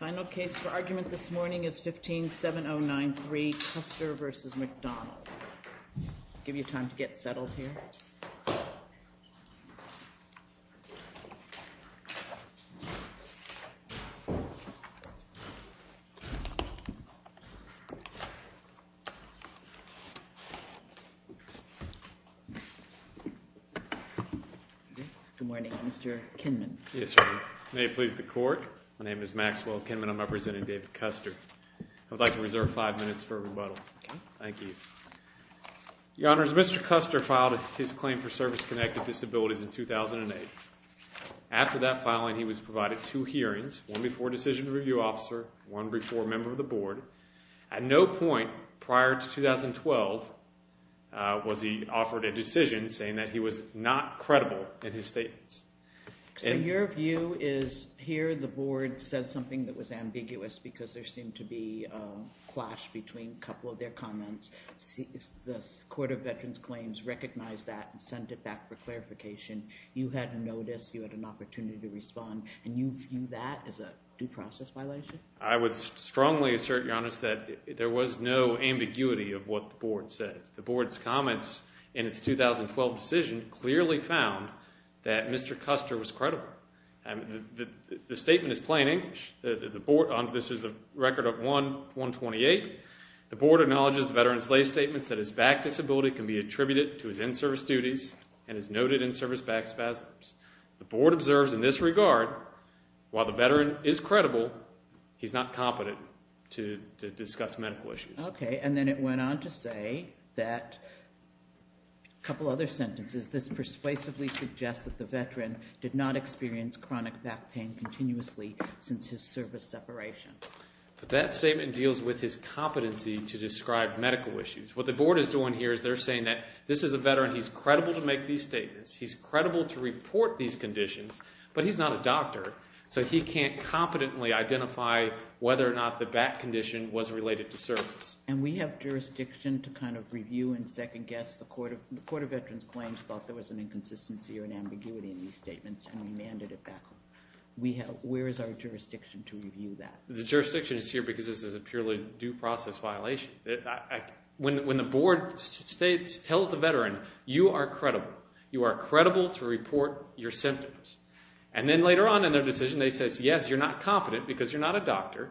Final case for argument this morning is 15-7093, Custer v. McDonald. I'll give you time to get settled here. Good morning, Mr. Kinman. Yes, ma'am. May it please the court, my name is Maxwell Kinman. I'm representing David Custer. I'd like to reserve five minutes for rebuttal. Okay. Thank you. Your Honors, Mr. Custer filed his claim for service-connected disabilities in 2008. After that filing, he was provided two hearings, one before decision review officer, one before member of the board. At no point prior to 2012 was he offered a decision saying that he was not credible in his statements. So your view is here the board said something that was ambiguous because there seemed to be a clash between a couple of their comments. The Court of Veterans Claims recognized that and sent it back for clarification. You had a notice. You had an opportunity to respond. And you view that as a due process violation? I would strongly assert, Your Honors, that there was no ambiguity of what the board said. The board's comments in its 2012 decision clearly found that Mr. Custer was credible. The statement is plain English. This is the record of 1-128. The board acknowledges the veteran's lay statements that his back disability can be attributed to his in-service duties and his noted in-service back spasms. The board observes in this regard, while the veteran is credible, he's not competent to discuss medical issues. Okay, and then it went on to say that, a couple other sentences, this persuasively suggests that the veteran did not experience chronic back pain continuously since his service separation. But that statement deals with his competency to describe medical issues. What the board is doing here is they're saying that this is a veteran. He's credible to make these statements. He's credible to report these conditions, but he's not a doctor, so he can't competently identify whether or not the back condition was related to service. And we have jurisdiction to kind of review and second-guess. The Court of Veterans Claims thought there was an inconsistency or an ambiguity in these statements, and we mandated it back home. Where is our jurisdiction to review that? The jurisdiction is here because this is a purely due process violation. When the board tells the veteran, you are credible. You are credible to report your symptoms. And then later on in their decision, they say, yes, you're not competent because you're not a doctor.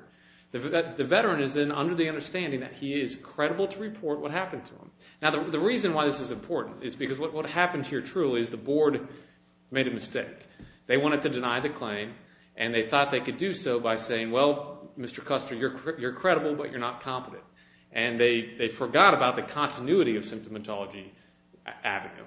The veteran is then under the understanding that he is credible to report what happened to him. Now, the reason why this is important is because what happened here truly is the board made a mistake. They wanted to deny the claim, and they thought they could do so by saying, well, Mr. Custer, you're credible, but you're not competent. And they forgot about the continuity of symptomatology avenue.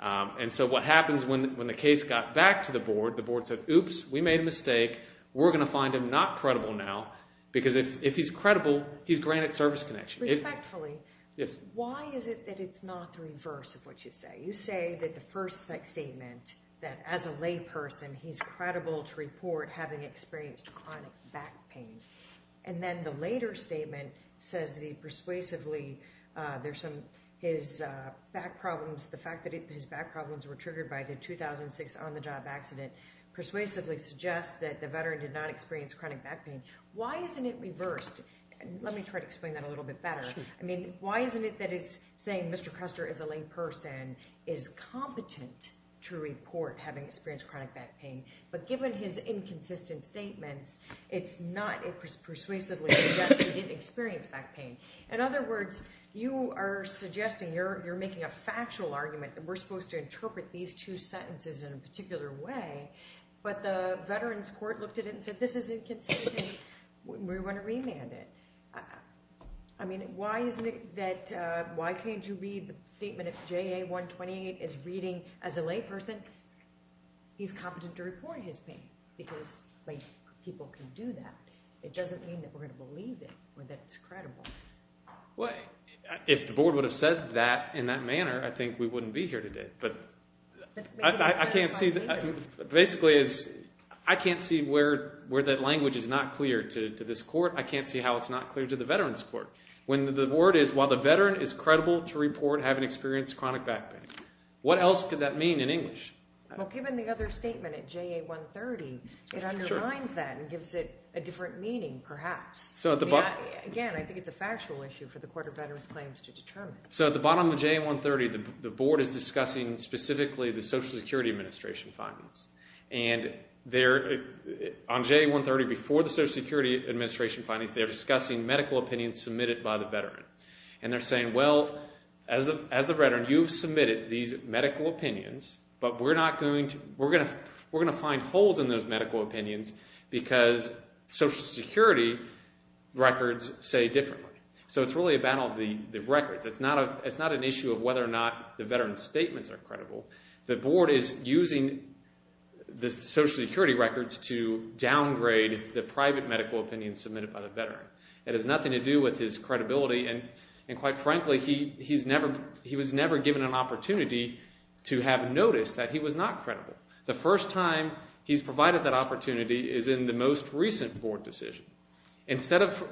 And so what happens when the case got back to the board, the board said, oops, we made a mistake. We're going to find him not credible now because if he's credible, he's granted service connection. Respectfully, why is it that it's not the reverse of what you say? You say that the first statement, that as a layperson, he's credible to report having experienced chronic back pain. And then the later statement says that he persuasively there's some his back problems. The fact that his back problems were triggered by the 2006 on the job accident persuasively suggests that the veteran did not experience chronic back pain. Why isn't it reversed? Let me try to explain that a little bit better. I mean, why isn't it that it's saying Mr. Custer is a layperson is competent to report having experienced chronic back pain. But given his inconsistent statements, it's not persuasively suggesting he didn't experience back pain. In other words, you are suggesting you're making a factual argument that we're supposed to interpret these two sentences in a particular way. But the Veterans Court looked at it and said, this is inconsistent. We want to remand it. I mean, why can't you read the statement of JA-128 is reading as a layperson? He's competent to report his pain because people can do that. It doesn't mean that we're going to believe it or that it's credible. Well, if the board would have said that in that manner, I think we wouldn't be here today. But I can't see that. Basically, I can't see where that language is not clear to this court. I can't see how it's not clear to the Veterans Court. When the board is, while the veteran is credible to report having experienced chronic back pain. What else could that mean in English? Well, given the other statement at JA-130, it underlines that and gives it a different meaning perhaps. Again, I think it's a factual issue for the Court of Veterans Claims to determine. So at the bottom of JA-130, the board is discussing specifically the Social Security Administration findings. And on JA-130, before the Social Security Administration findings, they're discussing medical opinions submitted by the veteran. And they're saying, well, as the veteran, you've submitted these medical opinions, but we're going to find holes in those medical opinions because Social Security records say differently. So it's really a battle of the records. It's not an issue of whether or not the veteran's statements are credible. The board is using the Social Security records to downgrade the private medical opinions submitted by the veteran. It has nothing to do with his credibility. And quite frankly, he was never given an opportunity to have noticed that he was not credible. The first time he's provided that opportunity is in the most recent board decision. Instead of,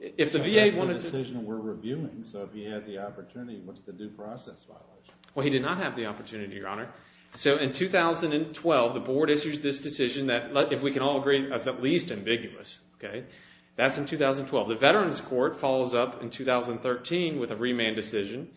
if the VA wanted to. That's the decision we're reviewing. So if he had the opportunity, what's the due process violation? Well, he did not have the opportunity, Your Honor. So in 2012, the board issues this decision that, if we can all agree, is at least ambiguous. That's in 2012. The Veterans Court follows up in 2013 with a remand decision,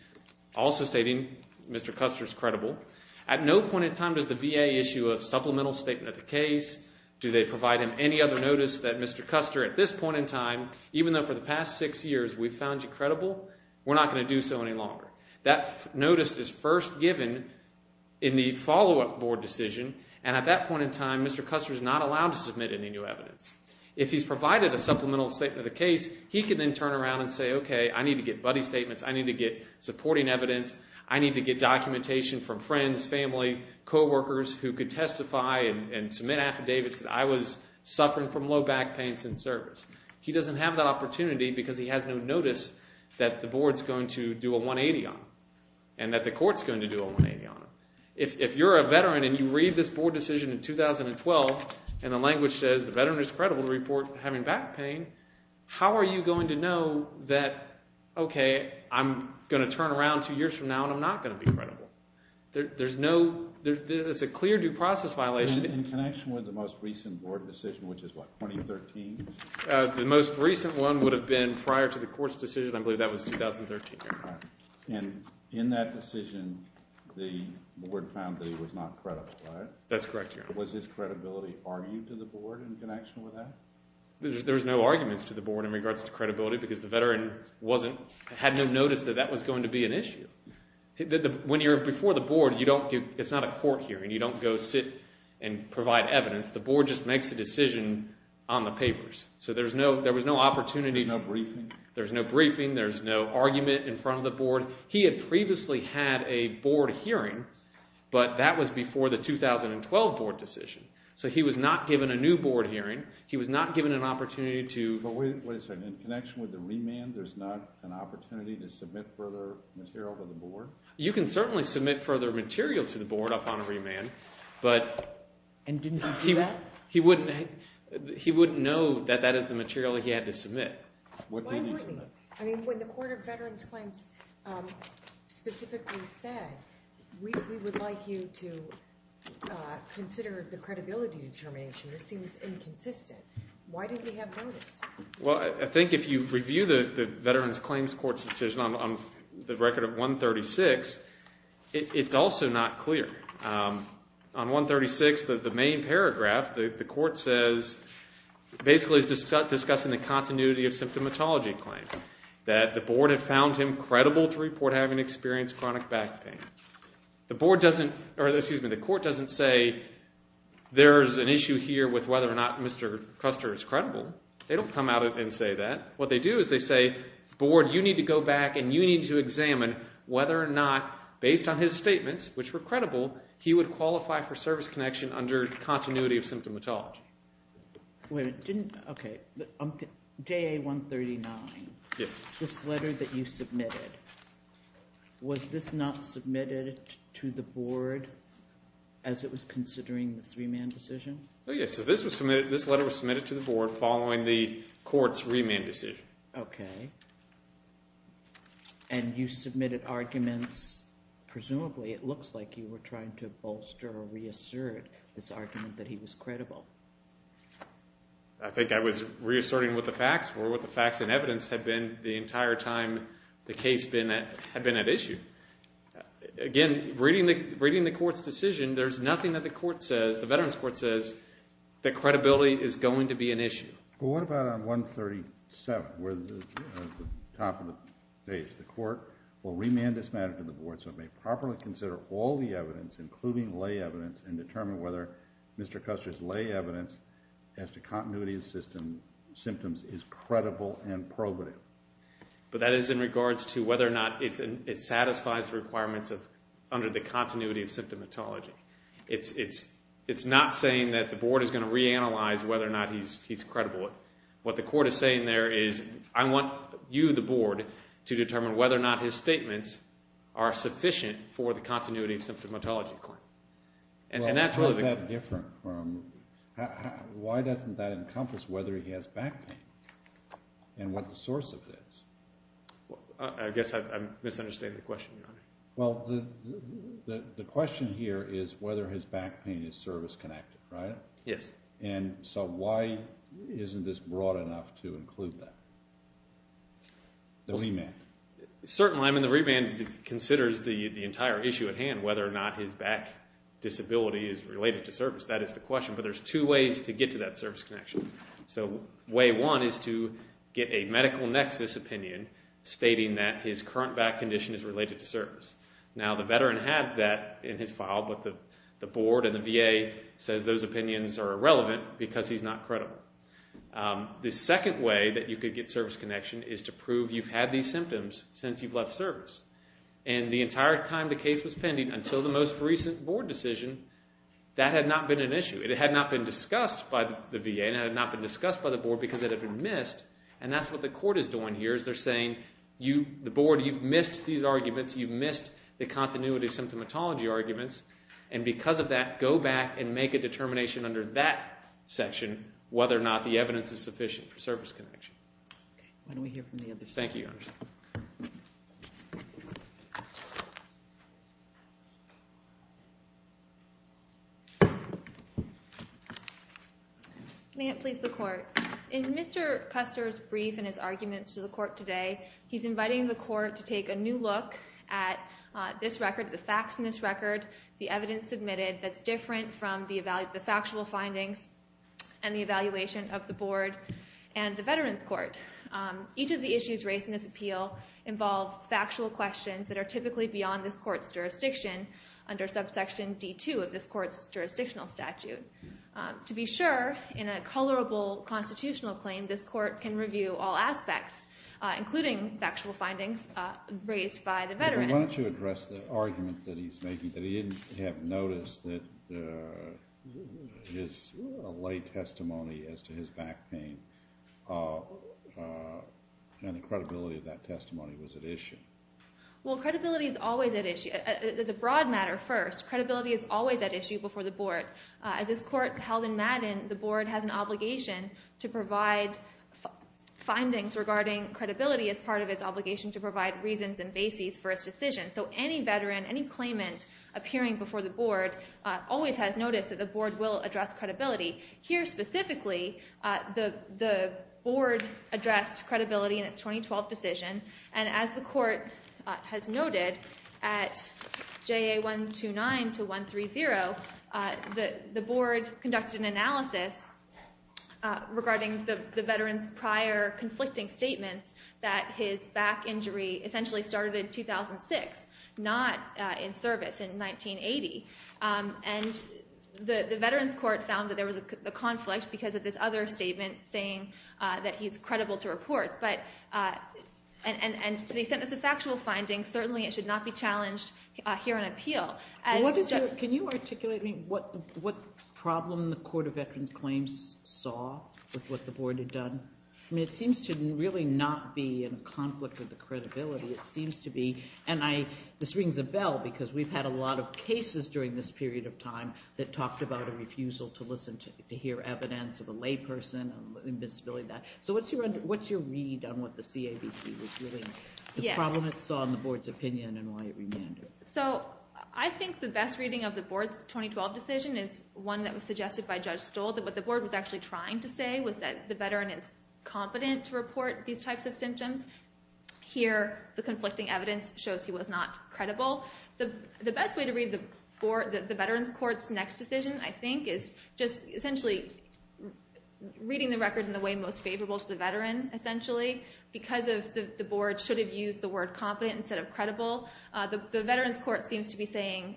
also stating Mr. Custer's credible. At no point in time does the VA issue a supplemental statement of the case. Do they provide him any other notice that, Mr. Custer, at this point in time, even though for the past six years we've found you credible, we're not going to do so any longer. That notice is first given in the follow-up board decision, and at that point in time, Mr. Custer is not allowed to submit any new evidence. If he's provided a supplemental statement of the case, he can then turn around and say, okay, I need to get buddy statements. I need to get supporting evidence. I need to get documentation from friends, family, coworkers who could testify and submit affidavits that I was suffering from low back pains in service. He doesn't have that opportunity because he has no notice that the board's going to do a 180 on him and that the court's going to do a 180 on him. If you're a veteran and you read this board decision in 2012 and the language says the veteran is credible to report having back pain, how are you going to know that, okay, I'm going to turn around two years from now and I'm not going to be credible? There's no ñ it's a clear due process violation. In connection with the most recent board decision, which is what, 2013? The most recent one would have been prior to the court's decision. I believe that was 2013. And in that decision, the board found that he was not credible, right? That's correct, Your Honor. Was his credibility argued to the board in connection with that? There was no arguments to the board in regards to credibility because the veteran had no notice that that was going to be an issue. When you're before the board, it's not a court hearing. You don't go sit and provide evidence. The board just makes a decision on the papers. So there was no opportunity. There's no briefing? There's no argument in front of the board? He had previously had a board hearing, but that was before the 2012 board decision. So he was not given a new board hearing. He was not given an opportunity toó But wait a second. In connection with the remand, there's not an opportunity to submit further material to the board? You can certainly submit further material to the board upon a remand, butó And didn't he do that? He wouldn't know that that is the material he had to submit. Why wouldn't he? I mean, when the Court of Veterans Claims specifically said, we would like you to consider the credibility determination, this seems inconsistent. Why didn't he have notice? Well, I think if you review the Veterans Claims Court's decision on the record of 136, it's also not clear. On 136, the main paragraph, the court says, basically is discussing the continuity of symptomatology claim, that the board had found him credible to report having experienced chronic back pain. The board doesn'tóor excuse me, the court doesn't say, there's an issue here with whether or not Mr. Custer is credible. They don't come out and say that. What they do is they say, board, you need to go back and you need to examine whether or not, based on his statements, which were credible, he would qualify for service connection under continuity of symptomatology. Wait a minute. Okay. JA 139. Yes. This letter that you submitted, was this not submitted to the board as it was considering this remand decision? Oh, yes. This letter was submitted to the board following the court's remand decision. Okay. And you submitted arguments, presumably, it looks like you were trying to bolster or reassert this argument that he was credible. I think I was reasserting what the facts were. What the facts and evidence had been the entire time the case had been at issue. Again, reading the court's decision, there's nothing that the court says, the Veterans Court says, that credibility is going to be an issue. Well, what about on 137, where the top of the page, the court will remand this matter to the board so it may properly consider all the evidence, including lay evidence, and determine whether Mr. Custer's lay evidence as to continuity of symptoms is credible and probative. But that is in regards to whether or not it satisfies the requirements under the continuity of symptomatology. It's not saying that the board is going to reanalyze whether or not he's credible. What the court is saying there is, I want you, the board, to determine whether or not his statements are sufficient for the continuity of symptomatology claim. How is that different? Why doesn't that encompass whether he has back pain and what the source of it is? I guess I'm misunderstanding the question, Your Honor. Well, the question here is whether his back pain is service-connected, right? Yes. And so why isn't this broad enough to include that? The remand. Certainly, I mean, the remand considers the entire issue at hand, whether or not his back disability is related to service. That is the question. But there's two ways to get to that service connection. So way one is to get a medical nexus opinion stating that his current back condition is related to service. Now, the veteran had that in his file, but the board and the VA says those opinions are irrelevant because he's not credible. The second way that you could get service connection is to prove you've had these symptoms since you've left service. And the entire time the case was pending until the most recent board decision, that had not been an issue. It had not been discussed by the VA, and it had not been discussed by the board because it had been missed. And that's what the court is doing here is they're saying, the board, you've missed these arguments, you've missed the continuity of symptomatology arguments, and because of that, go back and make a determination under that section whether or not the evidence is sufficient for service connection. Why don't we hear from the other side? Thank you, Your Honor. May it please the Court. In Mr. Custer's brief and his arguments to the court today, he's inviting the court to take a new look at this record, the facts in this record, the evidence submitted that's different from the factual findings and the evaluation of the board and the Veterans Court. Each of the issues raised in this appeal involve factual questions that are typically beyond this court's jurisdiction under subsection D2 of this court's jurisdictional statute. To be sure, in a colorable constitutional claim, this court can review all aspects, including factual findings raised by the veteran. Why don't you address the argument that he's making, that he didn't have notice that his late testimony as to his back pain and the credibility of that testimony was at issue? Well, credibility is always at issue. As a broad matter first, credibility is always at issue before the board. As this court held in Madden, the board has an obligation to provide findings regarding credibility as part of its obligation to provide reasons and bases for its decision. So any veteran, any claimant appearing before the board always has notice that the board will address credibility. Here specifically, the board addressed credibility in its 2012 decision, and as the court has noted, at JA 129 to 130, the board conducted an analysis regarding the veteran's prior conflicting statements that his back injury essentially started in 2006, not in service in 1980. And the Veterans Court found that there was a conflict because of this other statement saying that he's credible to report. And to the extent that it's a factual finding, certainly it should not be challenged here on appeal. Can you articulate to me what problem the Court of Veterans Claims saw with what the board had done? I mean, it seems to really not be in a conflict with the credibility. It seems to be, and this rings a bell because we've had a lot of cases during this period of time that talked about a refusal to listen, to hear evidence of a lay person, invisibility and that. So what's your read on what the CAVC was really, the problem it saw in the board's opinion and why it remanded? So I think the best reading of the board's 2012 decision is one that was suggested by Judge Stoll, that what the board was actually trying to say was that the veteran is competent to report these types of symptoms. Here, the conflicting evidence shows he was not credible. The best way to read the Veterans Court's next decision, I think, is just essentially reading the record in the way most favorable to the veteran, essentially. Because the board should have used the word competent instead of credible, the Veterans Court seems to be saying,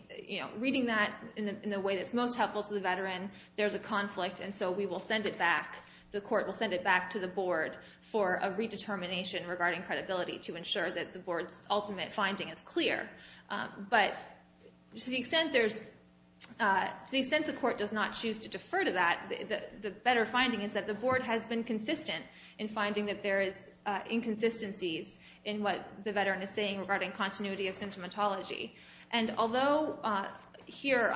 reading that in the way that's most helpful to the veteran, there's a conflict and so we will send it back, the court will send it back to the board for a redetermination regarding credibility to ensure that the board's ultimate finding is clear. But to the extent the court does not choose to defer to that, the better finding is that the board has been consistent in finding that there is inconsistencies in what the veteran is saying regarding continuity of symptomatology. And although here,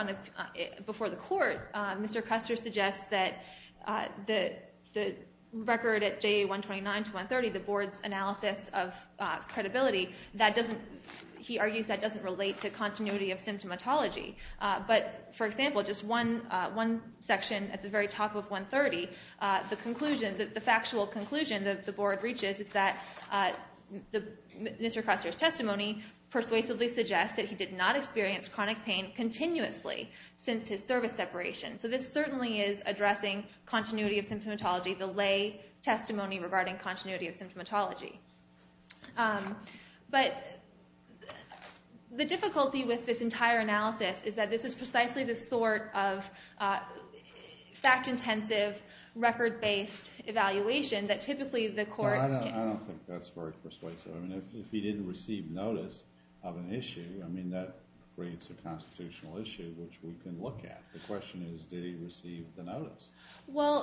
before the court, Mr. Custer suggests that the record at JA 129 to 130, the board's analysis of credibility, he argues that doesn't relate to continuity of symptomatology. But, for example, just one section at the very top of 130, the factual conclusion that the board reaches is that Mr. Custer's testimony persuasively suggests that he did not experience chronic pain continuously since his service separation. So this certainly is addressing continuity of symptomatology, the lay testimony regarding continuity of symptomatology. But the difficulty with this entire analysis is that this is precisely the sort of fact-intensive, record-based evaluation that typically the court... No, I don't think that's very persuasive. I mean, if he didn't receive notice of an issue, I mean, that creates a constitutional issue, which we can look at. The question is, did he receive the notice,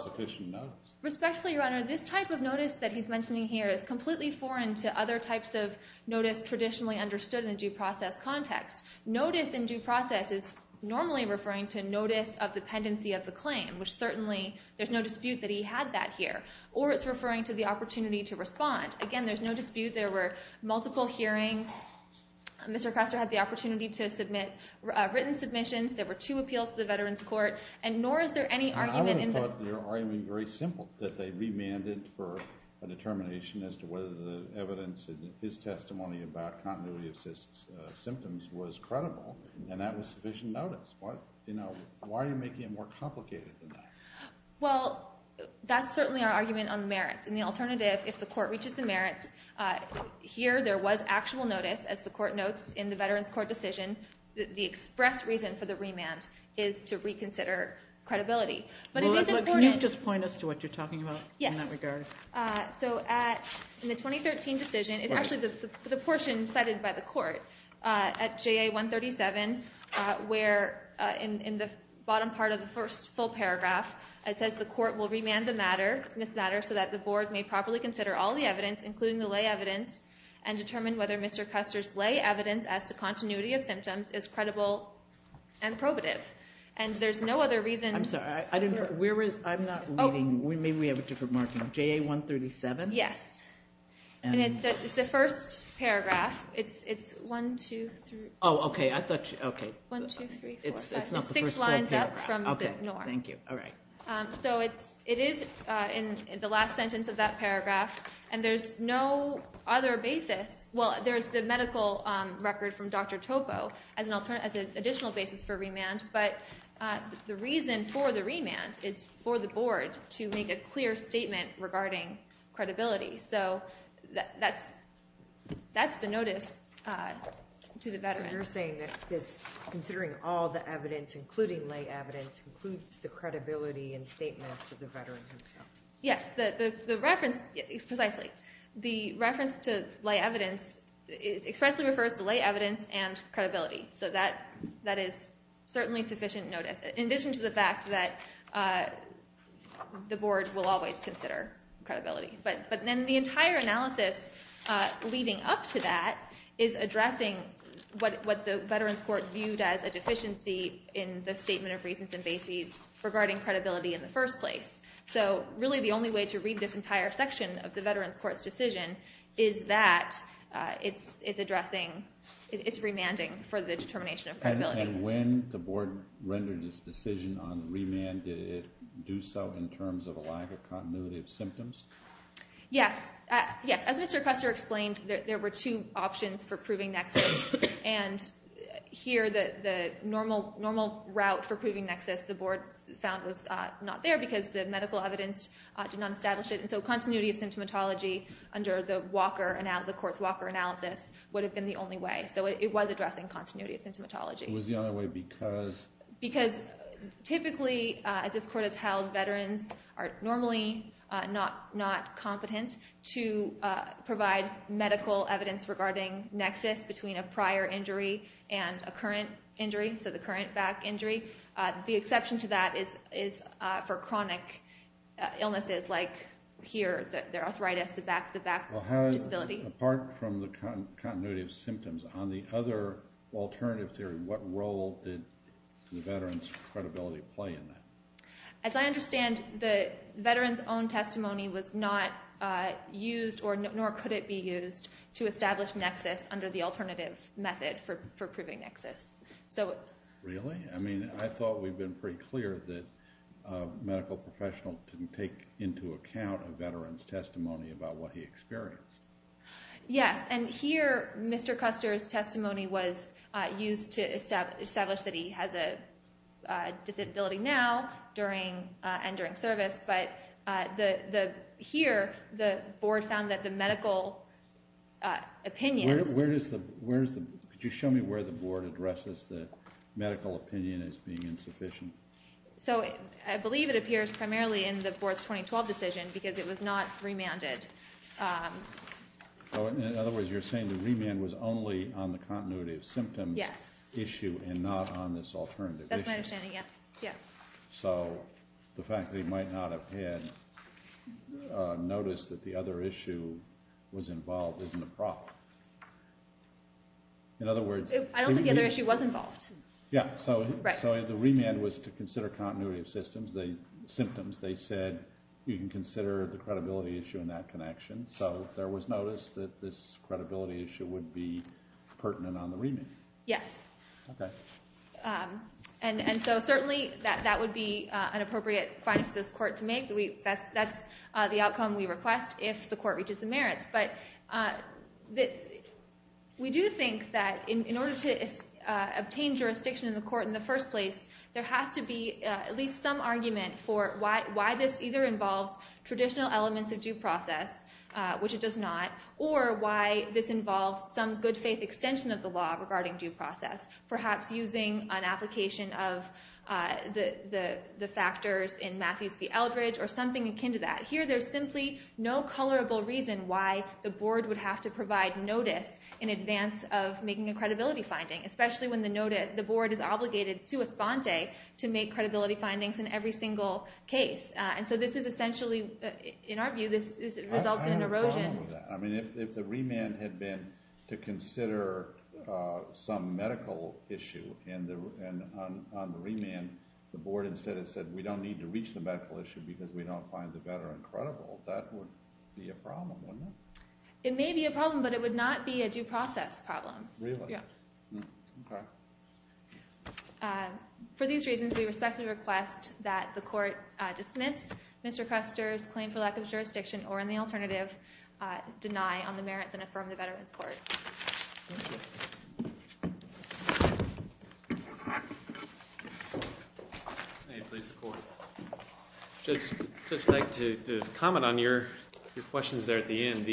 sufficient notice? Respectfully, Your Honor, this type of notice that he's mentioning here is completely foreign to other types of notice traditionally understood in a due process context. Notice in due process is normally referring to notice of dependency of the claim, which certainly there's no dispute that he had that here. Or it's referring to the opportunity to respond. Again, there's no dispute there were multiple hearings. Mr. Custer had the opportunity to submit written submissions. There were two appeals to the Veterans Court. And nor is there any argument in the... I would have thought their argument was very simple, that they remanded for a determination as to whether the evidence in his testimony about continuity of symptoms was credible, and that was sufficient notice. Why are you making it more complicated than that? Well, that's certainly our argument on merits. And the alternative, if the court reaches the merits, here there was actual notice, as the court notes, in the Veterans Court decision. The express reason for the remand is to reconsider credibility. Can you just point us to what you're talking about in that regard? Yes. So in the 2013 decision, actually the portion cited by the court at JA 137, where in the bottom part of the first full paragraph, it says the court will remand the matter, so that the board may properly consider all the evidence, including the lay evidence, and determine whether Mr. Custer's lay evidence as to continuity of symptoms is credible and probative. And there's no other reason... I'm sorry, I'm not reading. Maybe we have a different marking. JA 137? Yes. And it's the first paragraph. It's one, two, three... Oh, okay. One, two, three, four. It's six lines up from the norm. Okay, thank you. So it is in the last sentence of that paragraph, and there's no other basis. Well, there's the medical record from Dr. Topo as an additional basis for remand, but the reason for the remand is for the board to make a clear statement regarding credibility. So that's the notice to the veteran. So you're saying that considering all the evidence, including lay evidence, includes the credibility and statements of the veteran himself. Yes, precisely. The reference to lay evidence expressly refers to lay evidence and credibility. So that is certainly sufficient notice, in addition to the fact that the board will always consider credibility. But then the entire analysis leading up to that is addressing what the Veterans Court viewed as a deficiency in the statement of reasons and bases regarding credibility in the first place. So really the only way to read this entire section of the Veterans Court's decision is that it's remanding for the determination of credibility. And when the board rendered its decision on remand, did it do so in terms of a lack of continuity of symptoms? Yes. As Mr. Custer explained, there were two options for proving nexus, and here the normal route for proving nexus, the board found was not there because the medical evidence did not establish it. So continuity of symptomatology under the court's Walker analysis would have been the only way. So it was addressing continuity of symptomatology. It was the only way because...? Because typically, as this court has held, veterans are normally not competent to provide medical evidence regarding nexus between a prior injury and a current injury, so the current back injury. The exception to that is for chronic illnesses like here, their arthritis, the back disability. Apart from the continuity of symptoms, on the other alternative theory, what role did the veterans' credibility play in that? As I understand, the veterans' own testimony was not used, nor could it be used, to establish nexus under the alternative method for proving nexus. Really? I mean, I thought we'd been pretty clear that a medical professional didn't take into account a veteran's testimony about what he experienced. Yes, and here Mr. Custer's testimony was used to establish that he has a disability now and during service, but here the board found that the medical opinion... Could you show me where the board addresses the medical opinion as being insufficient? I believe it appears primarily in the board's 2012 decision because it was not remanded. In other words, you're saying the remand was only on the continuity of symptoms issue and not on this alternative issue. That's my understanding, yes. So the fact that he might not have had notice that the other issue was involved isn't a problem. In other words... I don't think the other issue was involved. Yeah, so the remand was to consider continuity of symptoms. They said you can consider the credibility issue in that connection, so there was notice that this credibility issue would be pertinent on the remand. Yes. Okay. And so certainly that would be an appropriate finding for this court to make. That's the outcome we request if the court reaches the merits, but we do think that in order to obtain jurisdiction in the court in the first place, there has to be at least some argument for why this either involves traditional elements of due process, which it does not, or why this involves some good-faith extension of the law regarding due process, perhaps using an application of the factors in Matthews v. Eldridge or something akin to that. Here, there's simply no colorable reason why the board would have to provide notice in advance of making a credibility finding, especially when the board is obligated, sua sponte, to make credibility findings in every single case. And so this is essentially, in our view, this results in an erosion. I have a problem with that. I mean, if the remand had been to consider some medical issue on the remand, the board instead had said, we don't need to reach the medical issue because we don't find the veteran credible, that would be a problem, wouldn't it? It may be a problem, but it would not be a due process problem. Really? Yeah. Okay. For these reasons, we respectfully request that the court dismiss Mr. Cruster's claim for lack of jurisdiction or, in the alternative, deny on the merits and affirm the Veterans Court. Thank you. May it please the Court. I'd just like to comment on your questions there at the end.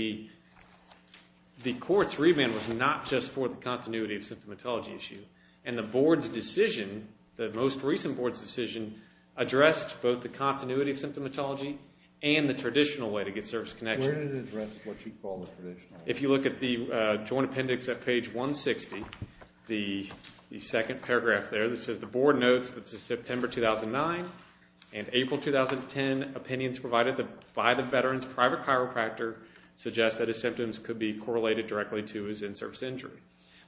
The court's remand was not just for the continuity of symptomatology issue, and the board's decision, the most recent board's decision, addressed both the continuity of symptomatology and the traditional way to get service connection. Where did it address what you call the traditional way? If you look at the Joint Appendix at page 160, the second paragraph there, it says the board notes that since September 2009 and April 2010, opinions provided by the veteran's private chiropractor suggest that his symptoms could be correlated directly to his in-service injury.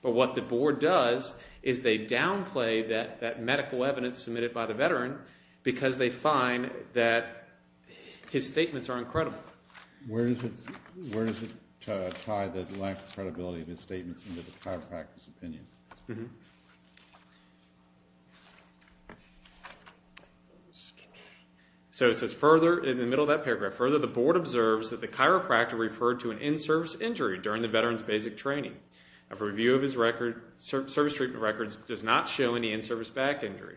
But what the board does is they downplay that medical evidence submitted by the veteran because they find that his statements are incredible. Where does it tie the lack of credibility of his statements into the chiropractor's opinion? So it says further, in the middle of that paragraph, further the board observes that the chiropractor referred to an in-service injury during the veteran's basic training. A review of his service treatment records does not show any in-service back injury.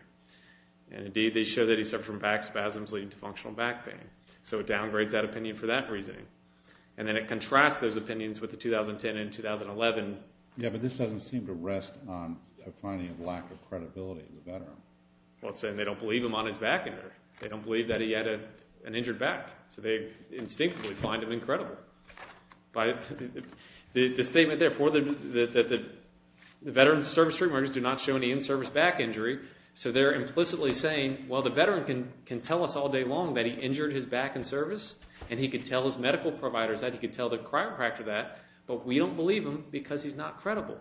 And indeed, they show that he suffered from back spasms leading to functional back pain. So it downgrades that opinion for that reasoning. And then it contrasts those opinions with the 2010 and 2011. Yeah, but this doesn't seem to rest on a finding of lack of credibility in the veteran. Well, it's saying they don't believe him on his back injury. They don't believe that he had an injured back. So they instinctively find him incredible. The statement there, the veteran's service treatment records do not show any in-service back injury, so they're implicitly saying, well, the veteran can tell us all day long that he injured his back in service, and he could tell his medical providers that, and he could tell the chiropractor that, but we don't believe him because he's not credible.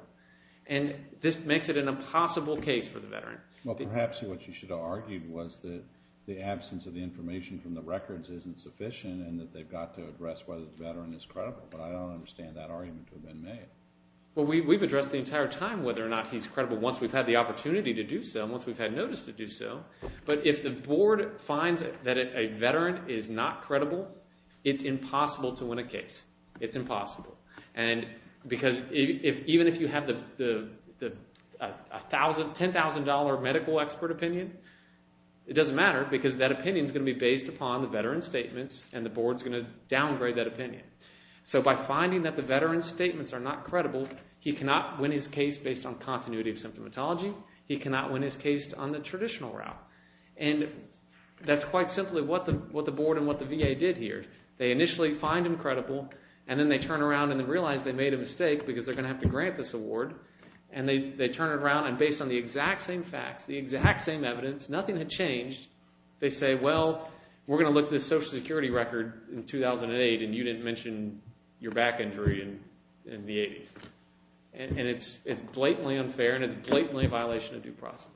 And this makes it an impossible case for the veteran. Well, perhaps what you should have argued was that the absence of the information from the records isn't sufficient and that they've got to address whether the veteran is credible. But I don't understand that argument to have been made. Well, we've addressed the entire time whether or not he's credible once we've had the opportunity to do so, once we've had notice to do so. But if the board finds that a veteran is not credible, it's impossible to win a case. It's impossible. Because even if you have the $10,000 medical expert opinion, it doesn't matter, because that opinion's going to be based upon the veteran's statements, and the board's going to downgrade that opinion. So by finding that the veteran's statements are not credible, he cannot win his case based on continuity of symptomatology, he cannot win his case on the traditional route. And that's quite simply what the board and what the VA did. They initially find him credible, and then they turn around and realize they made a mistake because they're going to have to grant this award. And they turn around, and based on the exact same facts, the exact same evidence, nothing had changed. They say, well, we're going to look at this Social Security record in 2008, and you didn't mention your back injury in the 80s. And it's blatantly unfair, and it's blatantly a violation of due process.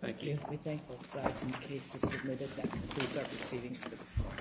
Thank you. We thank both sides. And the case is submitted. That concludes our proceedings for this morning.